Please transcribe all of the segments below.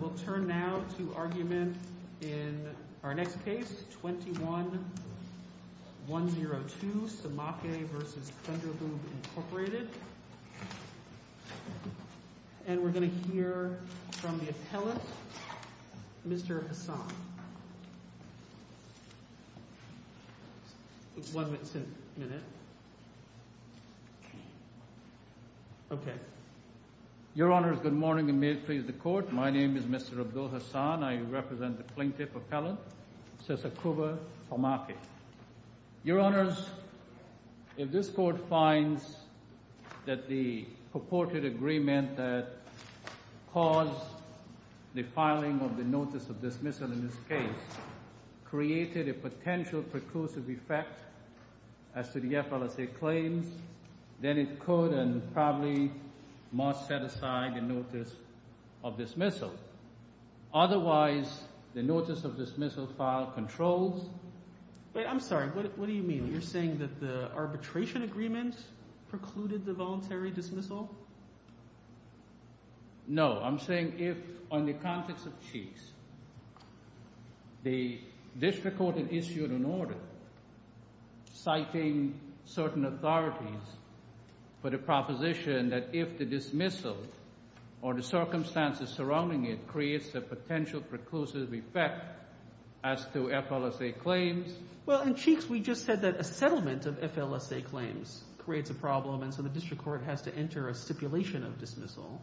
We'll turn now to argument in our next case, 21-102, Samake v. Thunder Lube, Inc. And we're going to hear from the appellant, Mr. Hassan. Your Honors, good morning, and may it please the Court. My name is Mr. Abdul Hassan. I represent the plaintiff appellant, Sisakouba Samake. Your Honors, if this Court finds that the purported agreement that caused the filing of the notice of dismissal in this case created a potential preclusive effect as to the FLSA claims, then it could and probably must set aside a notice of dismissal. Otherwise, the notice of dismissal file controls— Wait, I'm sorry. What do you mean? You're saying that the arbitration agreement precluded the voluntary dismissal? No. I'm saying if, on the context of Cheeks, the district court had issued an order citing certain authorities for the proposition that if the dismissal or the circumstances surrounding it creates a potential preclusive effect as to FLSA claims— Well, in Cheeks, we just said that a settlement of FLSA claims creates a problem, and so the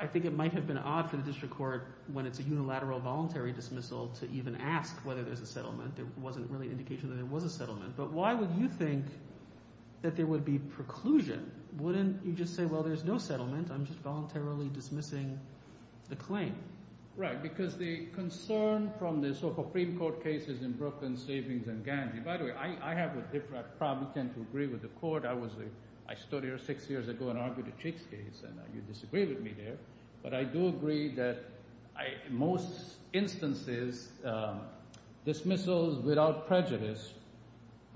I think it might have been odd for the district court, when it's a unilateral voluntary dismissal, to even ask whether there's a settlement. There wasn't really an indication that there was a settlement. But why would you think that there would be preclusion? Wouldn't you just say, well, there's no settlement. I'm just voluntarily dismissing the claim. Right, because the concern from the so-called Supreme Court cases in Brooklyn, Savings, and Gansey— By the way, I have a different problem. I tend to agree with the Court. I stood here six years ago and argued a Cheeks case, and you disagreed with me there. But I do agree that, in most instances, dismissals without prejudice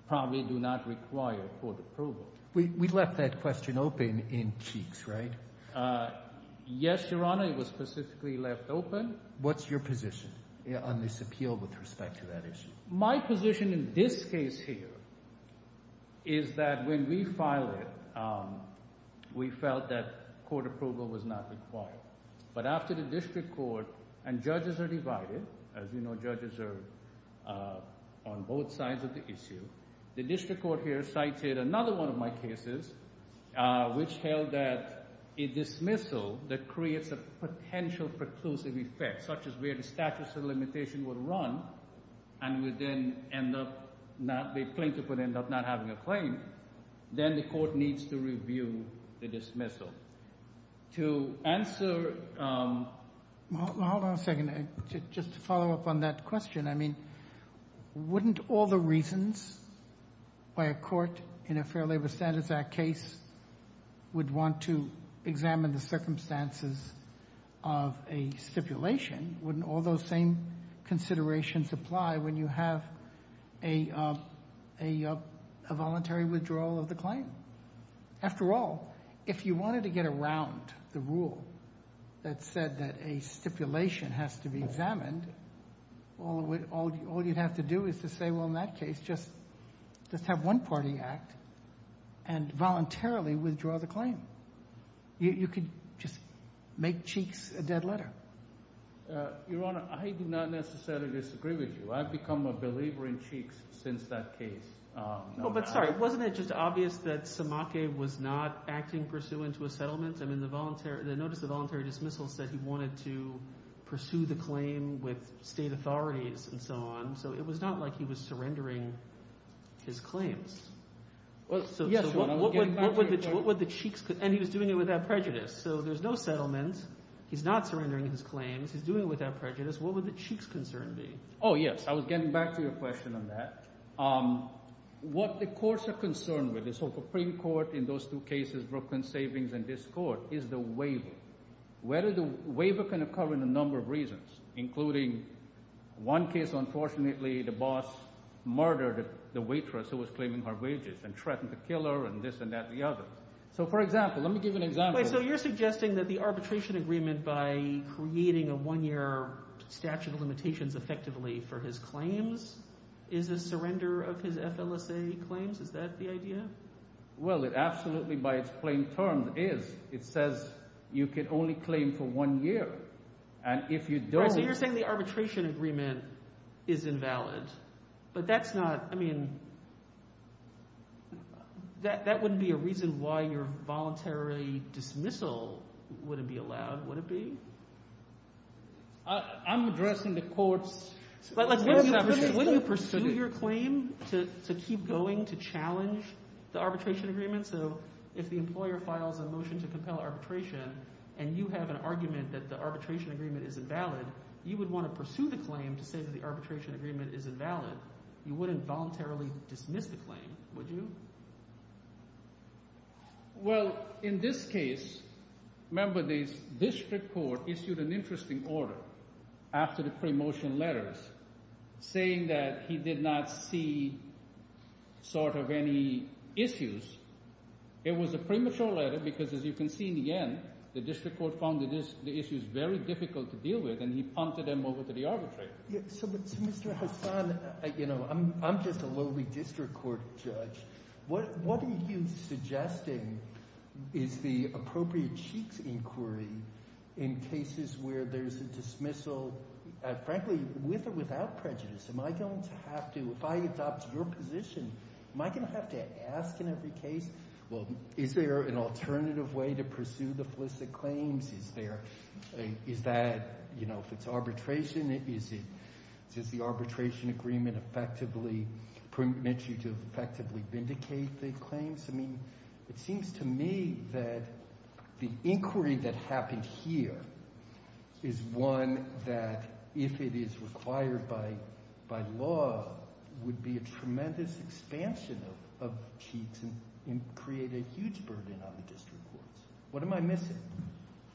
probably do not require court approval. We left that question open in Cheeks, right? Yes, Your Honor, it was specifically left open. What's your position on this appeal with respect to that issue? My position in this case here is that when we filed it, we felt that court approval was not required. But after the district court, and judges are divided—as you know, judges are on both sides of the issue—the district court here cited another one of my cases, which held that a dismissal that creates a potential preclusive effect, such as where the status of the limitation would run, and the plaintiff would end up not having a claim, then the court needs to review the dismissal. To answer— Well, hold on a second. Just to follow up on that question, I mean, wouldn't all the reasons why a court in a Fair Labor Standards Act case would want to examine the circumstances of a stipulation—wouldn't all those same considerations apply when you have a voluntary withdrawal of the claim? After all, if you wanted to get around the rule that said that a stipulation has to be examined, all you'd have to do is to say, well, in that case, just have one party act and voluntarily withdraw the claim. You could just make Cheeks a dead letter. Your Honor, I do not necessarily disagree with you. I've become a believer in Cheeks since that case. Oh, but sorry, wasn't it just obvious that Samake was not acting pursuant to a settlement? I mean, the voluntary—notice the voluntary dismissal said he wanted to pursue the claim with state authorities and so on, so it was not like he was surrendering his claims. Well, so— Yes, so what would the Cheeks—and he was doing it without prejudice, so there's no surrendering his claims. He's doing it without prejudice. What would the Cheeks' concern be? Oh, yes. I was getting back to your question on that. What the courts are concerned with, the Supreme Court in those two cases, Brooklyn Savings and this Court, is the waiver, whether the waiver can occur in a number of reasons, including one case, unfortunately, the boss murdered the waitress who was claiming her wages and threatened to kill her and this and that and the other. So for example, let me give you an example. So you're suggesting that the arbitration agreement, by creating a one-year statute of limitations effectively for his claims, is a surrender of his FLSA claims, is that the idea? Well, it absolutely, by its plain terms, is. It says you can only claim for one year, and if you don't— So you're saying the arbitration agreement is invalid, but that's not—I mean, that wouldn't be a reason why your voluntary dismissal wouldn't be allowed, would it be? I'm addressing the court's— But when you pursue your claim to keep going, to challenge the arbitration agreement, so if the employer files a motion to compel arbitration and you have an argument that the arbitration agreement is invalid, you would want to pursue the claim to say that the arbitration agreement is invalid. You wouldn't voluntarily dismiss the claim, would you? Well, in this case, remember the district court issued an interesting order after the pre-motion letters saying that he did not see sort of any issues. It was a premature letter because, as you can see in the end, the district court found the issues very difficult to deal with and he punted them over to the arbitrator. So, Mr. Hassan, you know, I'm just a lowly district court judge. What are you suggesting is the appropriate cheeks inquiry in cases where there's a dismissal—frankly, with or without prejudice, am I going to have to—if I adopt your position, am I going to have to ask in every case, well, is there an alternative way to pursue the felicit claims? Is there—is that, you know, if it's arbitration, is it—does the arbitration agreement effectively permit you to effectively vindicate the claims? I mean, it seems to me that the inquiry that happened here is one that, if it is required by law, would be a tremendous expansion of cheeks and create a huge burden on the district courts. What am I missing?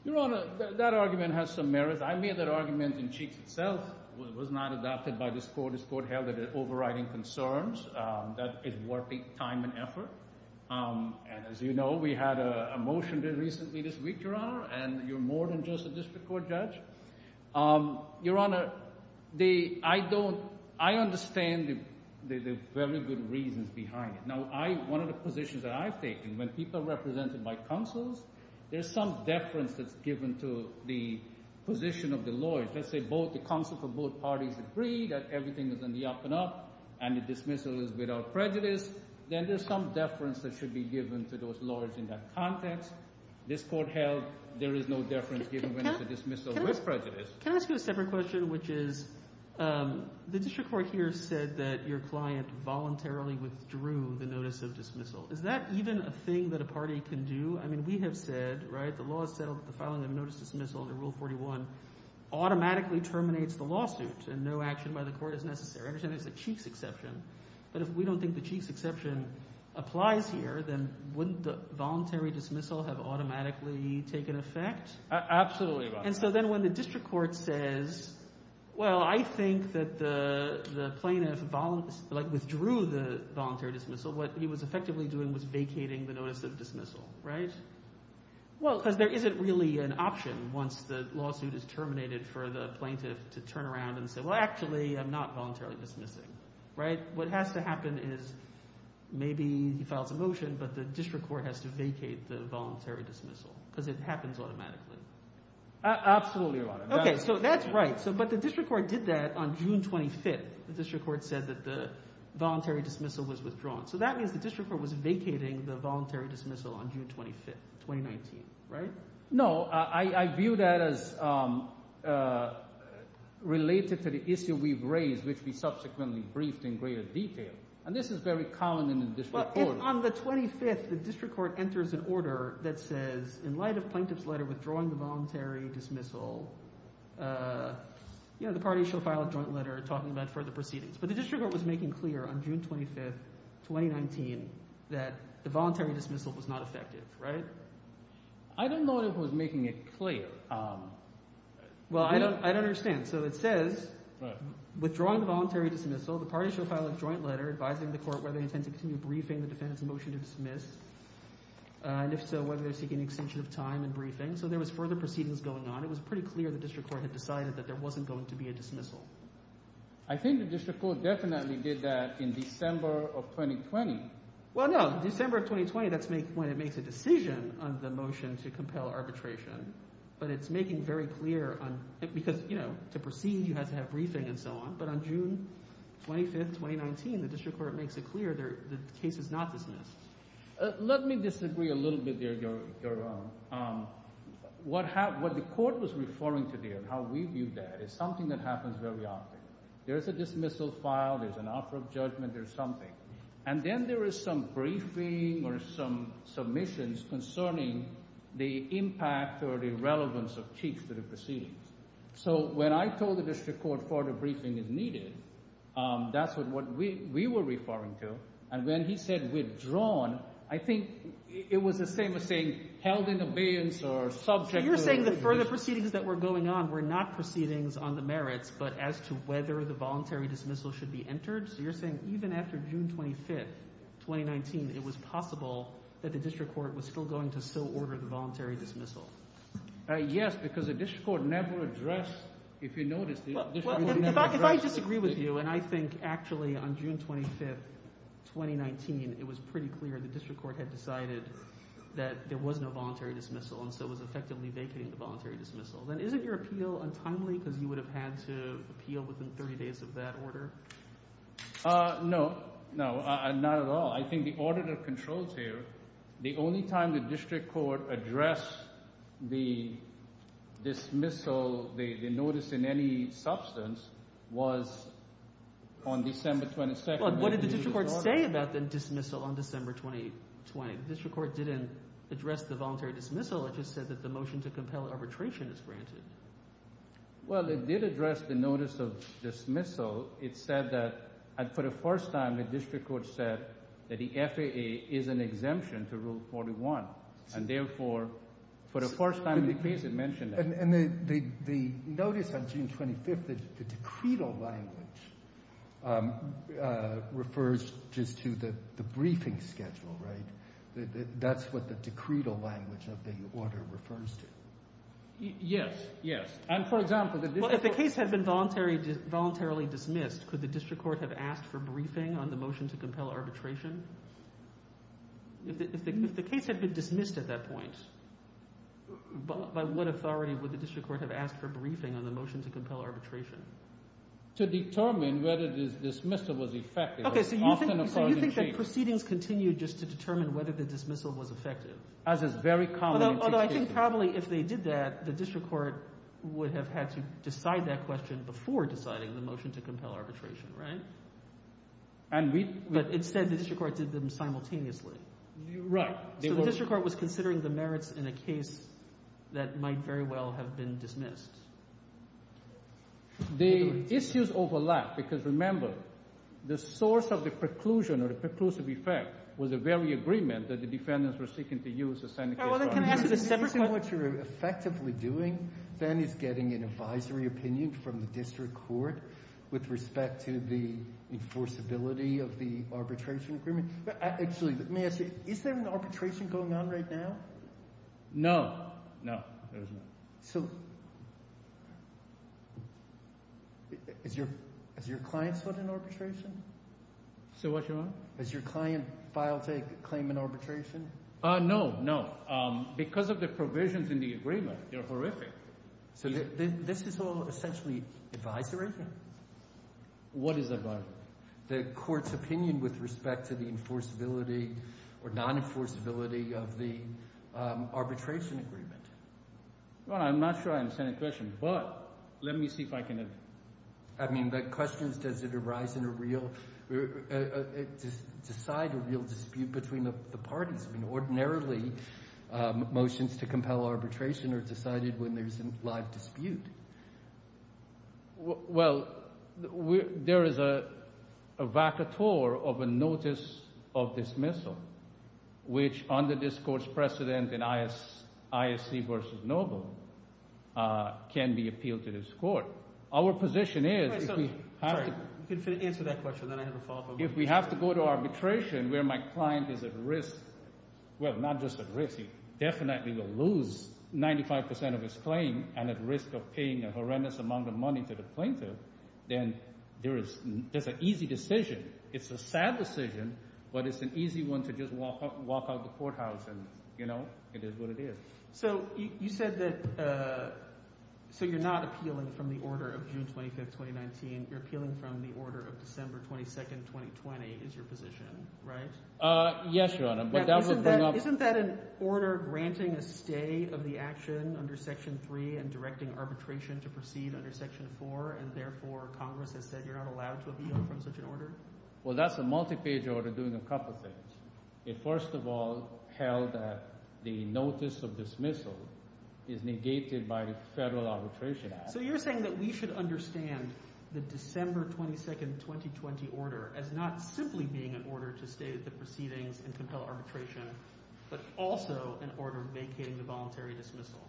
Your Honor, that argument has some merits. I made that argument in Cheeks itself. It was not adopted by this court. This court held it at overriding concerns. That is worth the time and effort, and as you know, we had a motion recently this week, Your Honor, and you're more than just a district court judge. Your Honor, the—I don't—I understand the very good reasons behind it. Now, I—one of the positions that I've taken, when people are represented by counsels, there's some deference that's given to the position of the lawyers. Let's say both—the counsel for both parties agree that everything is in the up and up and the dismissal is without prejudice, then there's some deference that should be given to those lawyers in that context. This court held there is no deference given when it's a dismissal with prejudice. Can I ask you a separate question, which is, the district court here said that your client voluntarily withdrew the notice of dismissal. Is that even a thing that a party can do? I mean, we have said, right, the law is settled that the filing of notice of dismissal under Rule 41 automatically terminates the lawsuit, and no action by the court is necessary. I understand there's a Cheeks exception, but if we don't think the Cheeks exception applies here, then wouldn't the voluntary dismissal have automatically taken effect? Absolutely, Your Honor. And so then when the district court says, well, I think that the plaintiff withdrew the voluntary dismissal, what he was effectively doing was vacating the notice of dismissal, right? Well, because there isn't really an option once the lawsuit is terminated for the plaintiff to turn around and say, well, actually, I'm not voluntarily dismissing, right? What has to happen is maybe he files a motion, but the district court has to vacate the voluntary dismissal, because it happens automatically. Absolutely, Your Honor. Okay, so that's right. But the district court did that on June 25th. The district court said that the voluntary dismissal was withdrawn. So that means the district court was vacating the voluntary dismissal on June 25th, 2019, right? No. I view that as related to the issue we've raised, which we subsequently briefed in greater detail. And this is very common in the district court. But if on the 25th, the district court enters an order that says, in light of plaintiff's letter withdrawing the voluntary dismissal, you know, the parties shall file a joint letter talking about further proceedings. But the district court was making clear on June 25th, 2019, that the voluntary dismissal was not effective, right? I don't know what it was making it clear. Well, I don't understand. So it says, withdrawing the voluntary dismissal, the parties shall file a joint letter advising the court whether they intend to continue briefing the defendants in the motion to dismiss. And if so, whether they're seeking an extension of time in briefing. So there was further proceedings going on. It was pretty clear the district court had decided that there wasn't going to be a dismissal. I think the district court definitely did that in December of 2020. Well, no. December of 2020, that's when it makes a decision on the motion to compel arbitration. But it's making very clear on, because, you know, to proceed, you have to have briefing and so on. But on June 25th, 2019, the district court makes it clear the case is not dismissed. Let me disagree a little bit there, Your Honor. What the court was referring to there, how we view that, is something that happens very often. There's a dismissal filed, there's an offer of judgment, there's something. And then there is some briefing or some submissions concerning the impact or the relevance of chiefs to the proceedings. So when I told the district court further briefing is needed, that's what we were referring to. And when he said withdrawn, I think it was the same as saying held in abeyance or subject to abeyance. So you're saying the further proceedings that were going on were not proceedings on the merits, but as to whether the voluntary dismissal should be entered? So you're saying even after June 25th, 2019, it was possible that the district court was still going to so order the voluntary dismissal? Yes, because the district court never addressed, if you notice, the district court never addressed the... If I disagree with you, and I think actually on June 25th, 2019, it was pretty clear the district court had decided that there was no voluntary dismissal, and so it was effectively vacating the voluntary dismissal, then isn't your appeal untimely because you would have had to appeal within 30 days of that order? No, no, not at all. I think the auditor controls here. The only time the district court addressed the dismissal, the notice in any substance, was on December 22nd. What did the district court say about the dismissal on December 20, 2020? District court didn't address the voluntary dismissal, it just said that the motion to compel arbitration is granted. Well, it did address the notice of dismissal. It said that, and for the first time, the district court said that the FAA is an exemption to Rule 41, and therefore, for the first time in the case, it mentioned that. The notice on June 25th, the decretal language refers just to the briefing schedule, right? That's what the decretal language of the order refers to. Yes, yes. And, for example, the district court- Well, if the case had been voluntarily dismissed, could the district court have asked for briefing on the motion to compel arbitration? If the case had been dismissed at that point, by what authority would the district court have asked for briefing on the motion to compel arbitration? To determine whether the dismissal was effective, often according to the chamber. Okay, so you think that proceedings continue just to determine whether the dismissal was effective? As is very common in the district court. So, probably, if they did that, the district court would have had to decide that question before deciding the motion to compel arbitration, right? And we- But, instead, the district court did them simultaneously. Right. So, the district court was considering the merits in a case that might very well have been dismissed. The issues overlap, because, remember, the source of the preclusion or the preclusive Well, then, can I ask a separate question? So, you're saying that what you're effectively doing, then, is getting an advisory opinion from the district court with respect to the enforceability of the arbitration agreement? Actually, let me ask you, is there an arbitration going on right now? No. No. There is not. So, has your client sought an arbitration? So what's going on? Has your client filed a claim in arbitration? No. No. No. No. Because of the provisions in the agreement, they're horrific. So, this is all essentially advisory? What is advisory? The court's opinion with respect to the enforceability or non-enforceability of the arbitration agreement. Well, I'm not sure I understand the question, but let me see if I can- I mean, the question is, does it arise in a real- decide a real dispute between the parties? I mean, ordinarily, motions to compel arbitration are decided when there's a live dispute. Well, there is a vacatur of a notice of dismissal, which under this court's precedent in ISC versus Noble, can be appealed to this court. Our position is- Sorry, you can answer that question, then I have a follow-up. If we have to go to arbitration where my client is at risk- well, not just at risk, he definitely will lose 95% of his claim and at risk of paying a horrendous amount of money to the plaintiff, then there's an easy decision. It's a sad decision, but it's an easy one to just walk out of the courthouse and, you know, it is what it is. So you said that- so you're not appealing from the order of June 25th, 2019, you're saying that December 22nd, 2020 is your position, right? Yes, Your Honor. But that would bring up- Isn't that an order granting a stay of the action under Section 3 and directing arbitration to proceed under Section 4, and therefore Congress has said you're not allowed to appeal from such an order? Well, that's a multi-page order doing a couple things. It first of all held that the notice of dismissal is negated by the federal arbitration act. So you're saying that we should understand the December 22nd, 2020 order as not simply being an order to stay at the proceedings and compel arbitration, but also an order vacating the voluntary dismissal.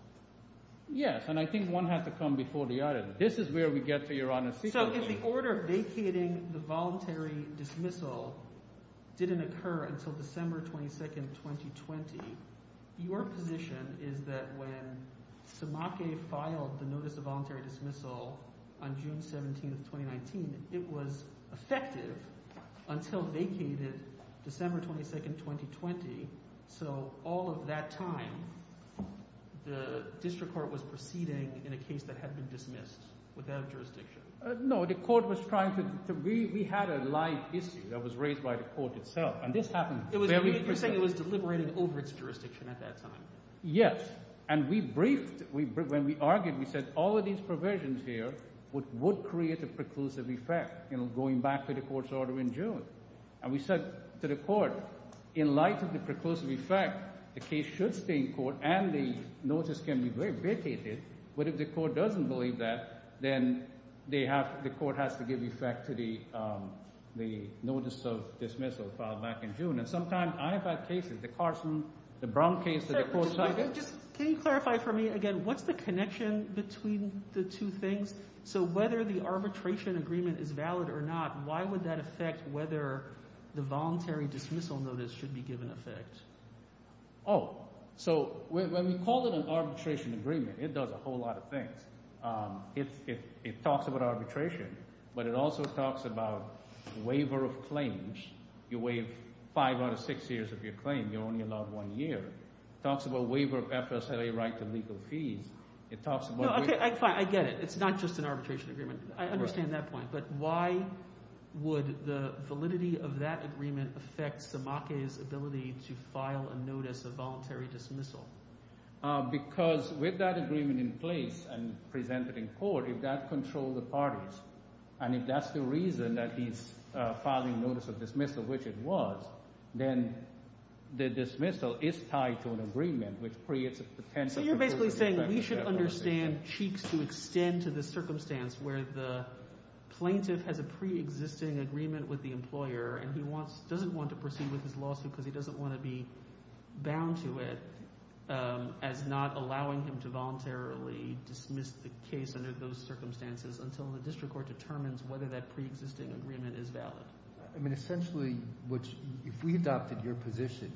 Yes, and I think one has to come before the other. This is where we get to, Your Honor, secretly. So if the order vacating the voluntary dismissal didn't occur until December 22nd, 2020, your position is that when Samake filed the notice of voluntary dismissal on June 17th, 2019, it was effective until vacated December 22nd, 2020. So all of that time, the district court was proceeding in a case that had been dismissed without jurisdiction. No, the court was trying to- we had a live issue that was raised by the court itself, and this happened- So you're saying it was deliberating over its jurisdiction at that time. Yes, and we briefed- when we argued, we said all of these provisions here would create a preclusive effect, going back to the court's order in June, and we said to the court, in light of the preclusive effect, the case should stay in court and the notice can be vacated, but if the court doesn't believe that, then the court has to give effect to the notice of dismissal filed back in June, and sometimes I've had cases, the Carson, the Brown case that the court- Can you clarify for me again, what's the connection between the two things? So whether the arbitration agreement is valid or not, why would that affect whether the voluntary dismissal notice should be given effect? Oh, so when we call it an arbitration agreement, it does a whole lot of things. It talks about arbitration, but it also talks about waiver of claims. You waive five out of six years of your claim, you're only allowed one year. Talks about waiver of FSLA right to legal fees. It talks about- No, okay, I get it. It's not just an arbitration agreement. I understand that point, but why would the validity of that agreement affect Samake's ability to file a notice of voluntary dismissal? Because with that agreement in place and presented in court, if that controlled the parties, and if that's the reason that he's filing notice of dismissal, which it was, then the dismissal is tied to an agreement, which creates a potential- So you're basically saying we should understand Cheeks to extend to the circumstance where the plaintiff has a pre-existing agreement with the employer, and he doesn't want to as not allowing him to voluntarily dismiss the case under those circumstances until the district court determines whether that pre-existing agreement is valid. I mean, essentially, if we adopted your position,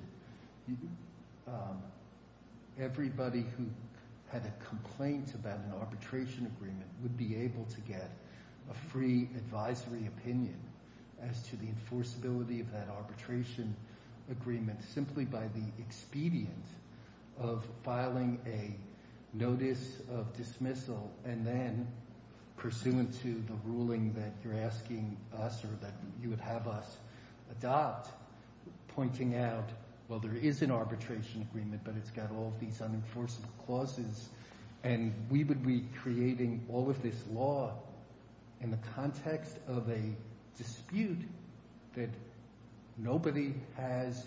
everybody who had a complaint about an arbitration agreement would be able to get a free advisory opinion as to the enforceability of that arbitration agreement simply by the expedient of filing a notice of dismissal, and then pursuant to the ruling that you're asking us or that you would have us adopt, pointing out, well, there is an arbitration agreement, but it's got all of these unenforceable clauses, and we has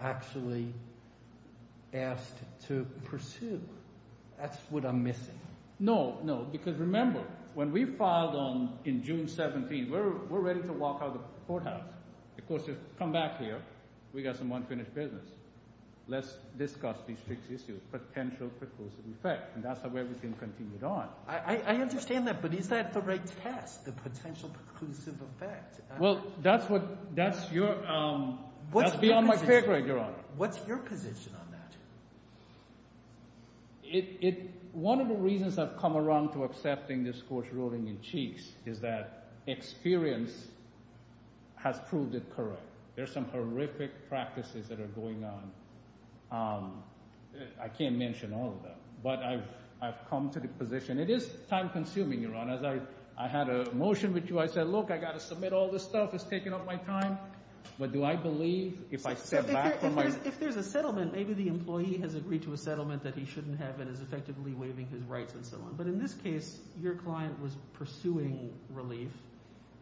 actually asked to pursue. That's what I'm missing. No, no, because remember, when we filed on, in June 17, we're ready to walk out of the courthouse. Of course, just come back here, we got some unfinished business. Let's discuss these Cheeks issues, potential preclusive effect, and that's how everything continued on. I understand that, but is that the right test, the potential preclusive effect? Well, that's beyond my fair grade, Your Honor. What's your position on that? One of the reasons I've come around to accepting this Court's ruling in Cheeks is that experience has proved it correct. There's some horrific practices that are going on. I can't mention all of them, but I've come to the position. It is time-consuming, Your Honor. I had a motion with you. I said, look, I got to submit all this stuff. It's taking up my time, but do I believe, if I step back from my... If there's a settlement, maybe the employee has agreed to a settlement that he shouldn't have and is effectively waiving his rights and so on, but in this case, your client was pursuing relief,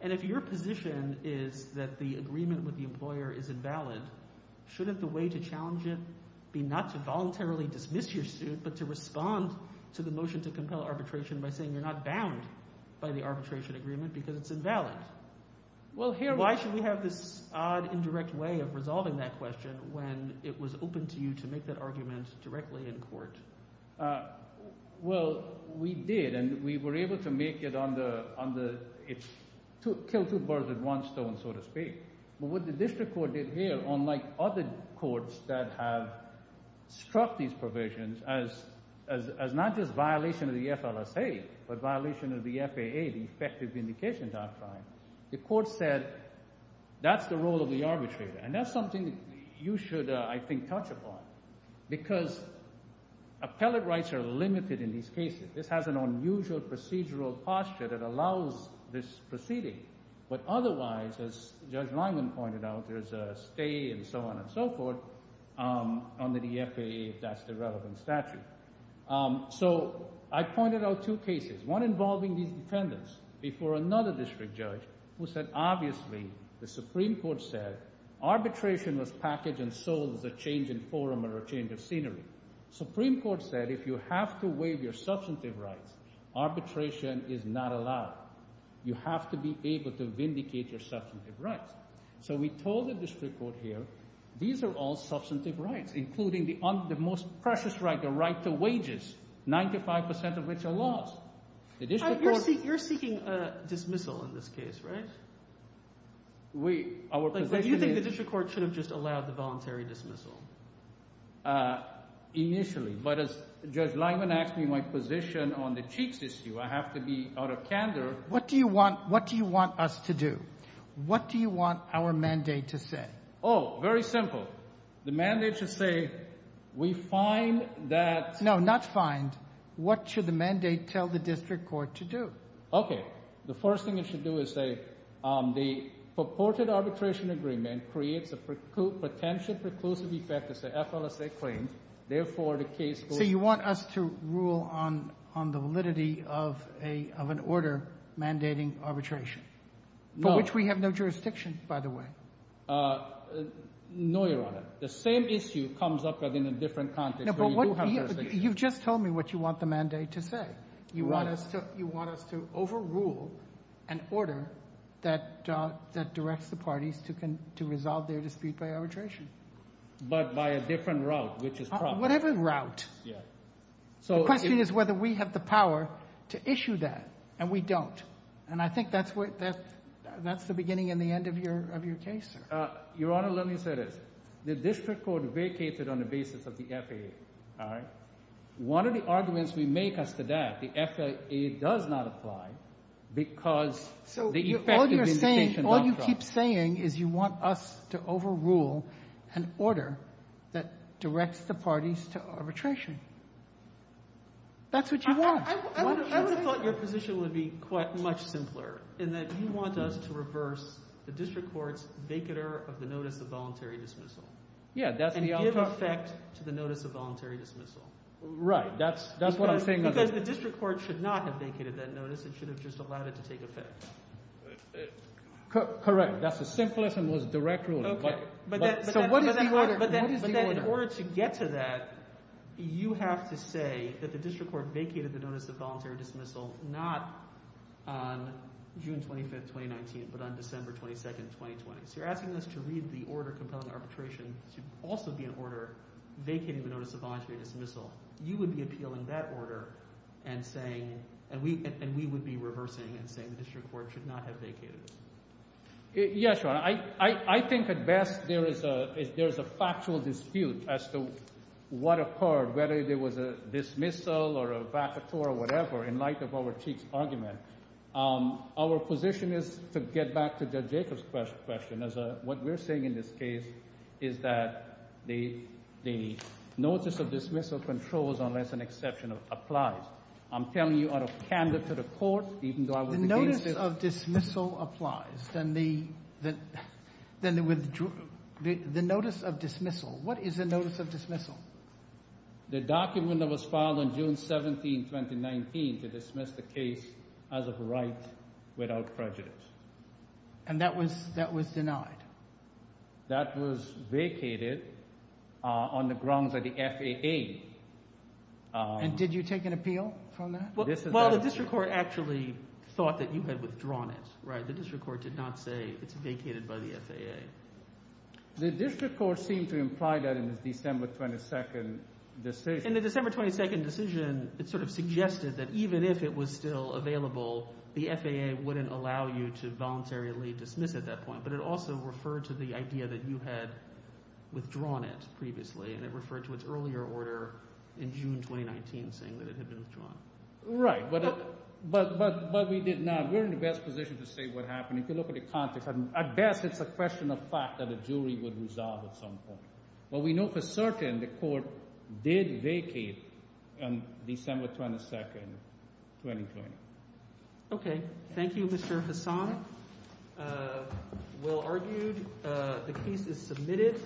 and if your position is that the agreement with the employer is invalid, shouldn't the way to challenge it be not to voluntarily dismiss your suit, but to respond to the motion to compel arbitration by saying you're not bound by the arbitration agreement because it's invalid? Well, here... Why should we have this odd, indirect way of resolving that question when it was open to you to make that argument directly in court? Well, we did, and we were able to make it on the... kill two birds with one stone, so to speak, but what the District Court did here, unlike other courts that have struck these provisions as not just violation of the FLSA, but violation of the FAA, the Effective Vindication Doctrine, the court said, that's the role of the arbitrator, and that's something you should, I think, touch upon, because appellate rights are limited in these cases. This has an unusual procedural posture that allows this proceeding, but otherwise, as Judge Langman pointed out, there's a stay and so on and so forth under the FAA, if that's the relevant statute. So, I pointed out two cases, one involving these defendants before another district judge who said, obviously, the Supreme Court said, arbitration was packaged and sold as a change in forum or a change of scenery. The Supreme Court said, if you have to waive your substantive rights, arbitration is not allowed. You have to be able to vindicate your substantive rights. So, we told the District Court here, these are all substantive rights, including the most precious right, the right to wages, 95% of which are lost. The District Court You're seeking a dismissal in this case, right? We, our position is But you think the District Court should have just allowed the voluntary dismissal? Initially, but as Judge Langman asked me, my position on the Cheeks issue, I have to be out of candor What do you want us to do? What do you want our mandate to say? Oh, very simple. The mandate should say, we find that No, not find. What should the mandate tell the District Court to do? Okay. The first thing it should do is say, the purported arbitration agreement creates a potential preclusive effect, as the FLSA claims, therefore, the case will So, you want us to rule on the validity of an order mandating arbitration? No For which we have no jurisdiction, by the way No, Your Honor. The same issue comes up, but in a different context No, but you've just told me what you want the mandate to say You want us to overrule an order that directs the parties to resolve their dispute by arbitration But by a different route, which is proper By whatever route Yeah The question is whether we have the power to issue that, and we don't And I think that's the beginning and the end of your case, sir Your Honor, let me say this. The District Court vacated on the basis of the FAA, all right? One of the arguments we make as to that, the FAA does not apply because So, all you're saying, all you keep saying is you want us to overrule an order that directs the parties to arbitration That's what you want I would have thought your position would be quite much simpler in that you want us to reverse the District Court's vacater of the notice of voluntary dismissal Yeah, that's And give effect to the notice of voluntary dismissal Right, that's what I'm saying Because the District Court should not have vacated that notice, it should have just allowed it to take effect Correct, that's the simplest and most direct ruling But then in order to get to that, you have to say that the District Court vacated the notice of voluntary dismissal not on June 25th, 2019, but on December 22nd, 2020 So you're asking us to read the order compelling arbitration to also be an order vacating the notice of voluntary dismissal You would be appealing that order and we would be reversing and saying the District Court should not have vacated it Yes, Your Honor. I think at best there is a factual dispute as to what occurred whether there was a dismissal or a vacator or whatever in light of our Chief's argument Our position is to get back to Judge Jacobs' question What we're saying in this case is that the notice of dismissal controls unless an exception applies I'm telling you out of candor to the Court, even though I was against it If the notice of dismissal applies, what is the notice of dismissal? The document that was filed on June 17th, 2019 to dismiss the case as of right without prejudice And that was denied? That was vacated on the grounds of the FAA And did you take an appeal from that? Well, the District Court actually thought that you had withdrawn it The District Court did not say it's vacated by the FAA The District Court seemed to imply that in the December 22nd decision In the December 22nd decision, it sort of suggested that even if it was still available the FAA wouldn't allow you to voluntarily dismiss at that point But it also referred to the idea that you had withdrawn it previously And it referred to its earlier order in June 2019 saying that it had been withdrawn Right, but we did not. We're in the best position to say what happened If you look at the context, at best it's a question of fact that a jury would resolve at some point But we know for certain the Court did vacate on December 22nd, 2020 Okay, thank you Mr. Hassan Well argued. The case is submitted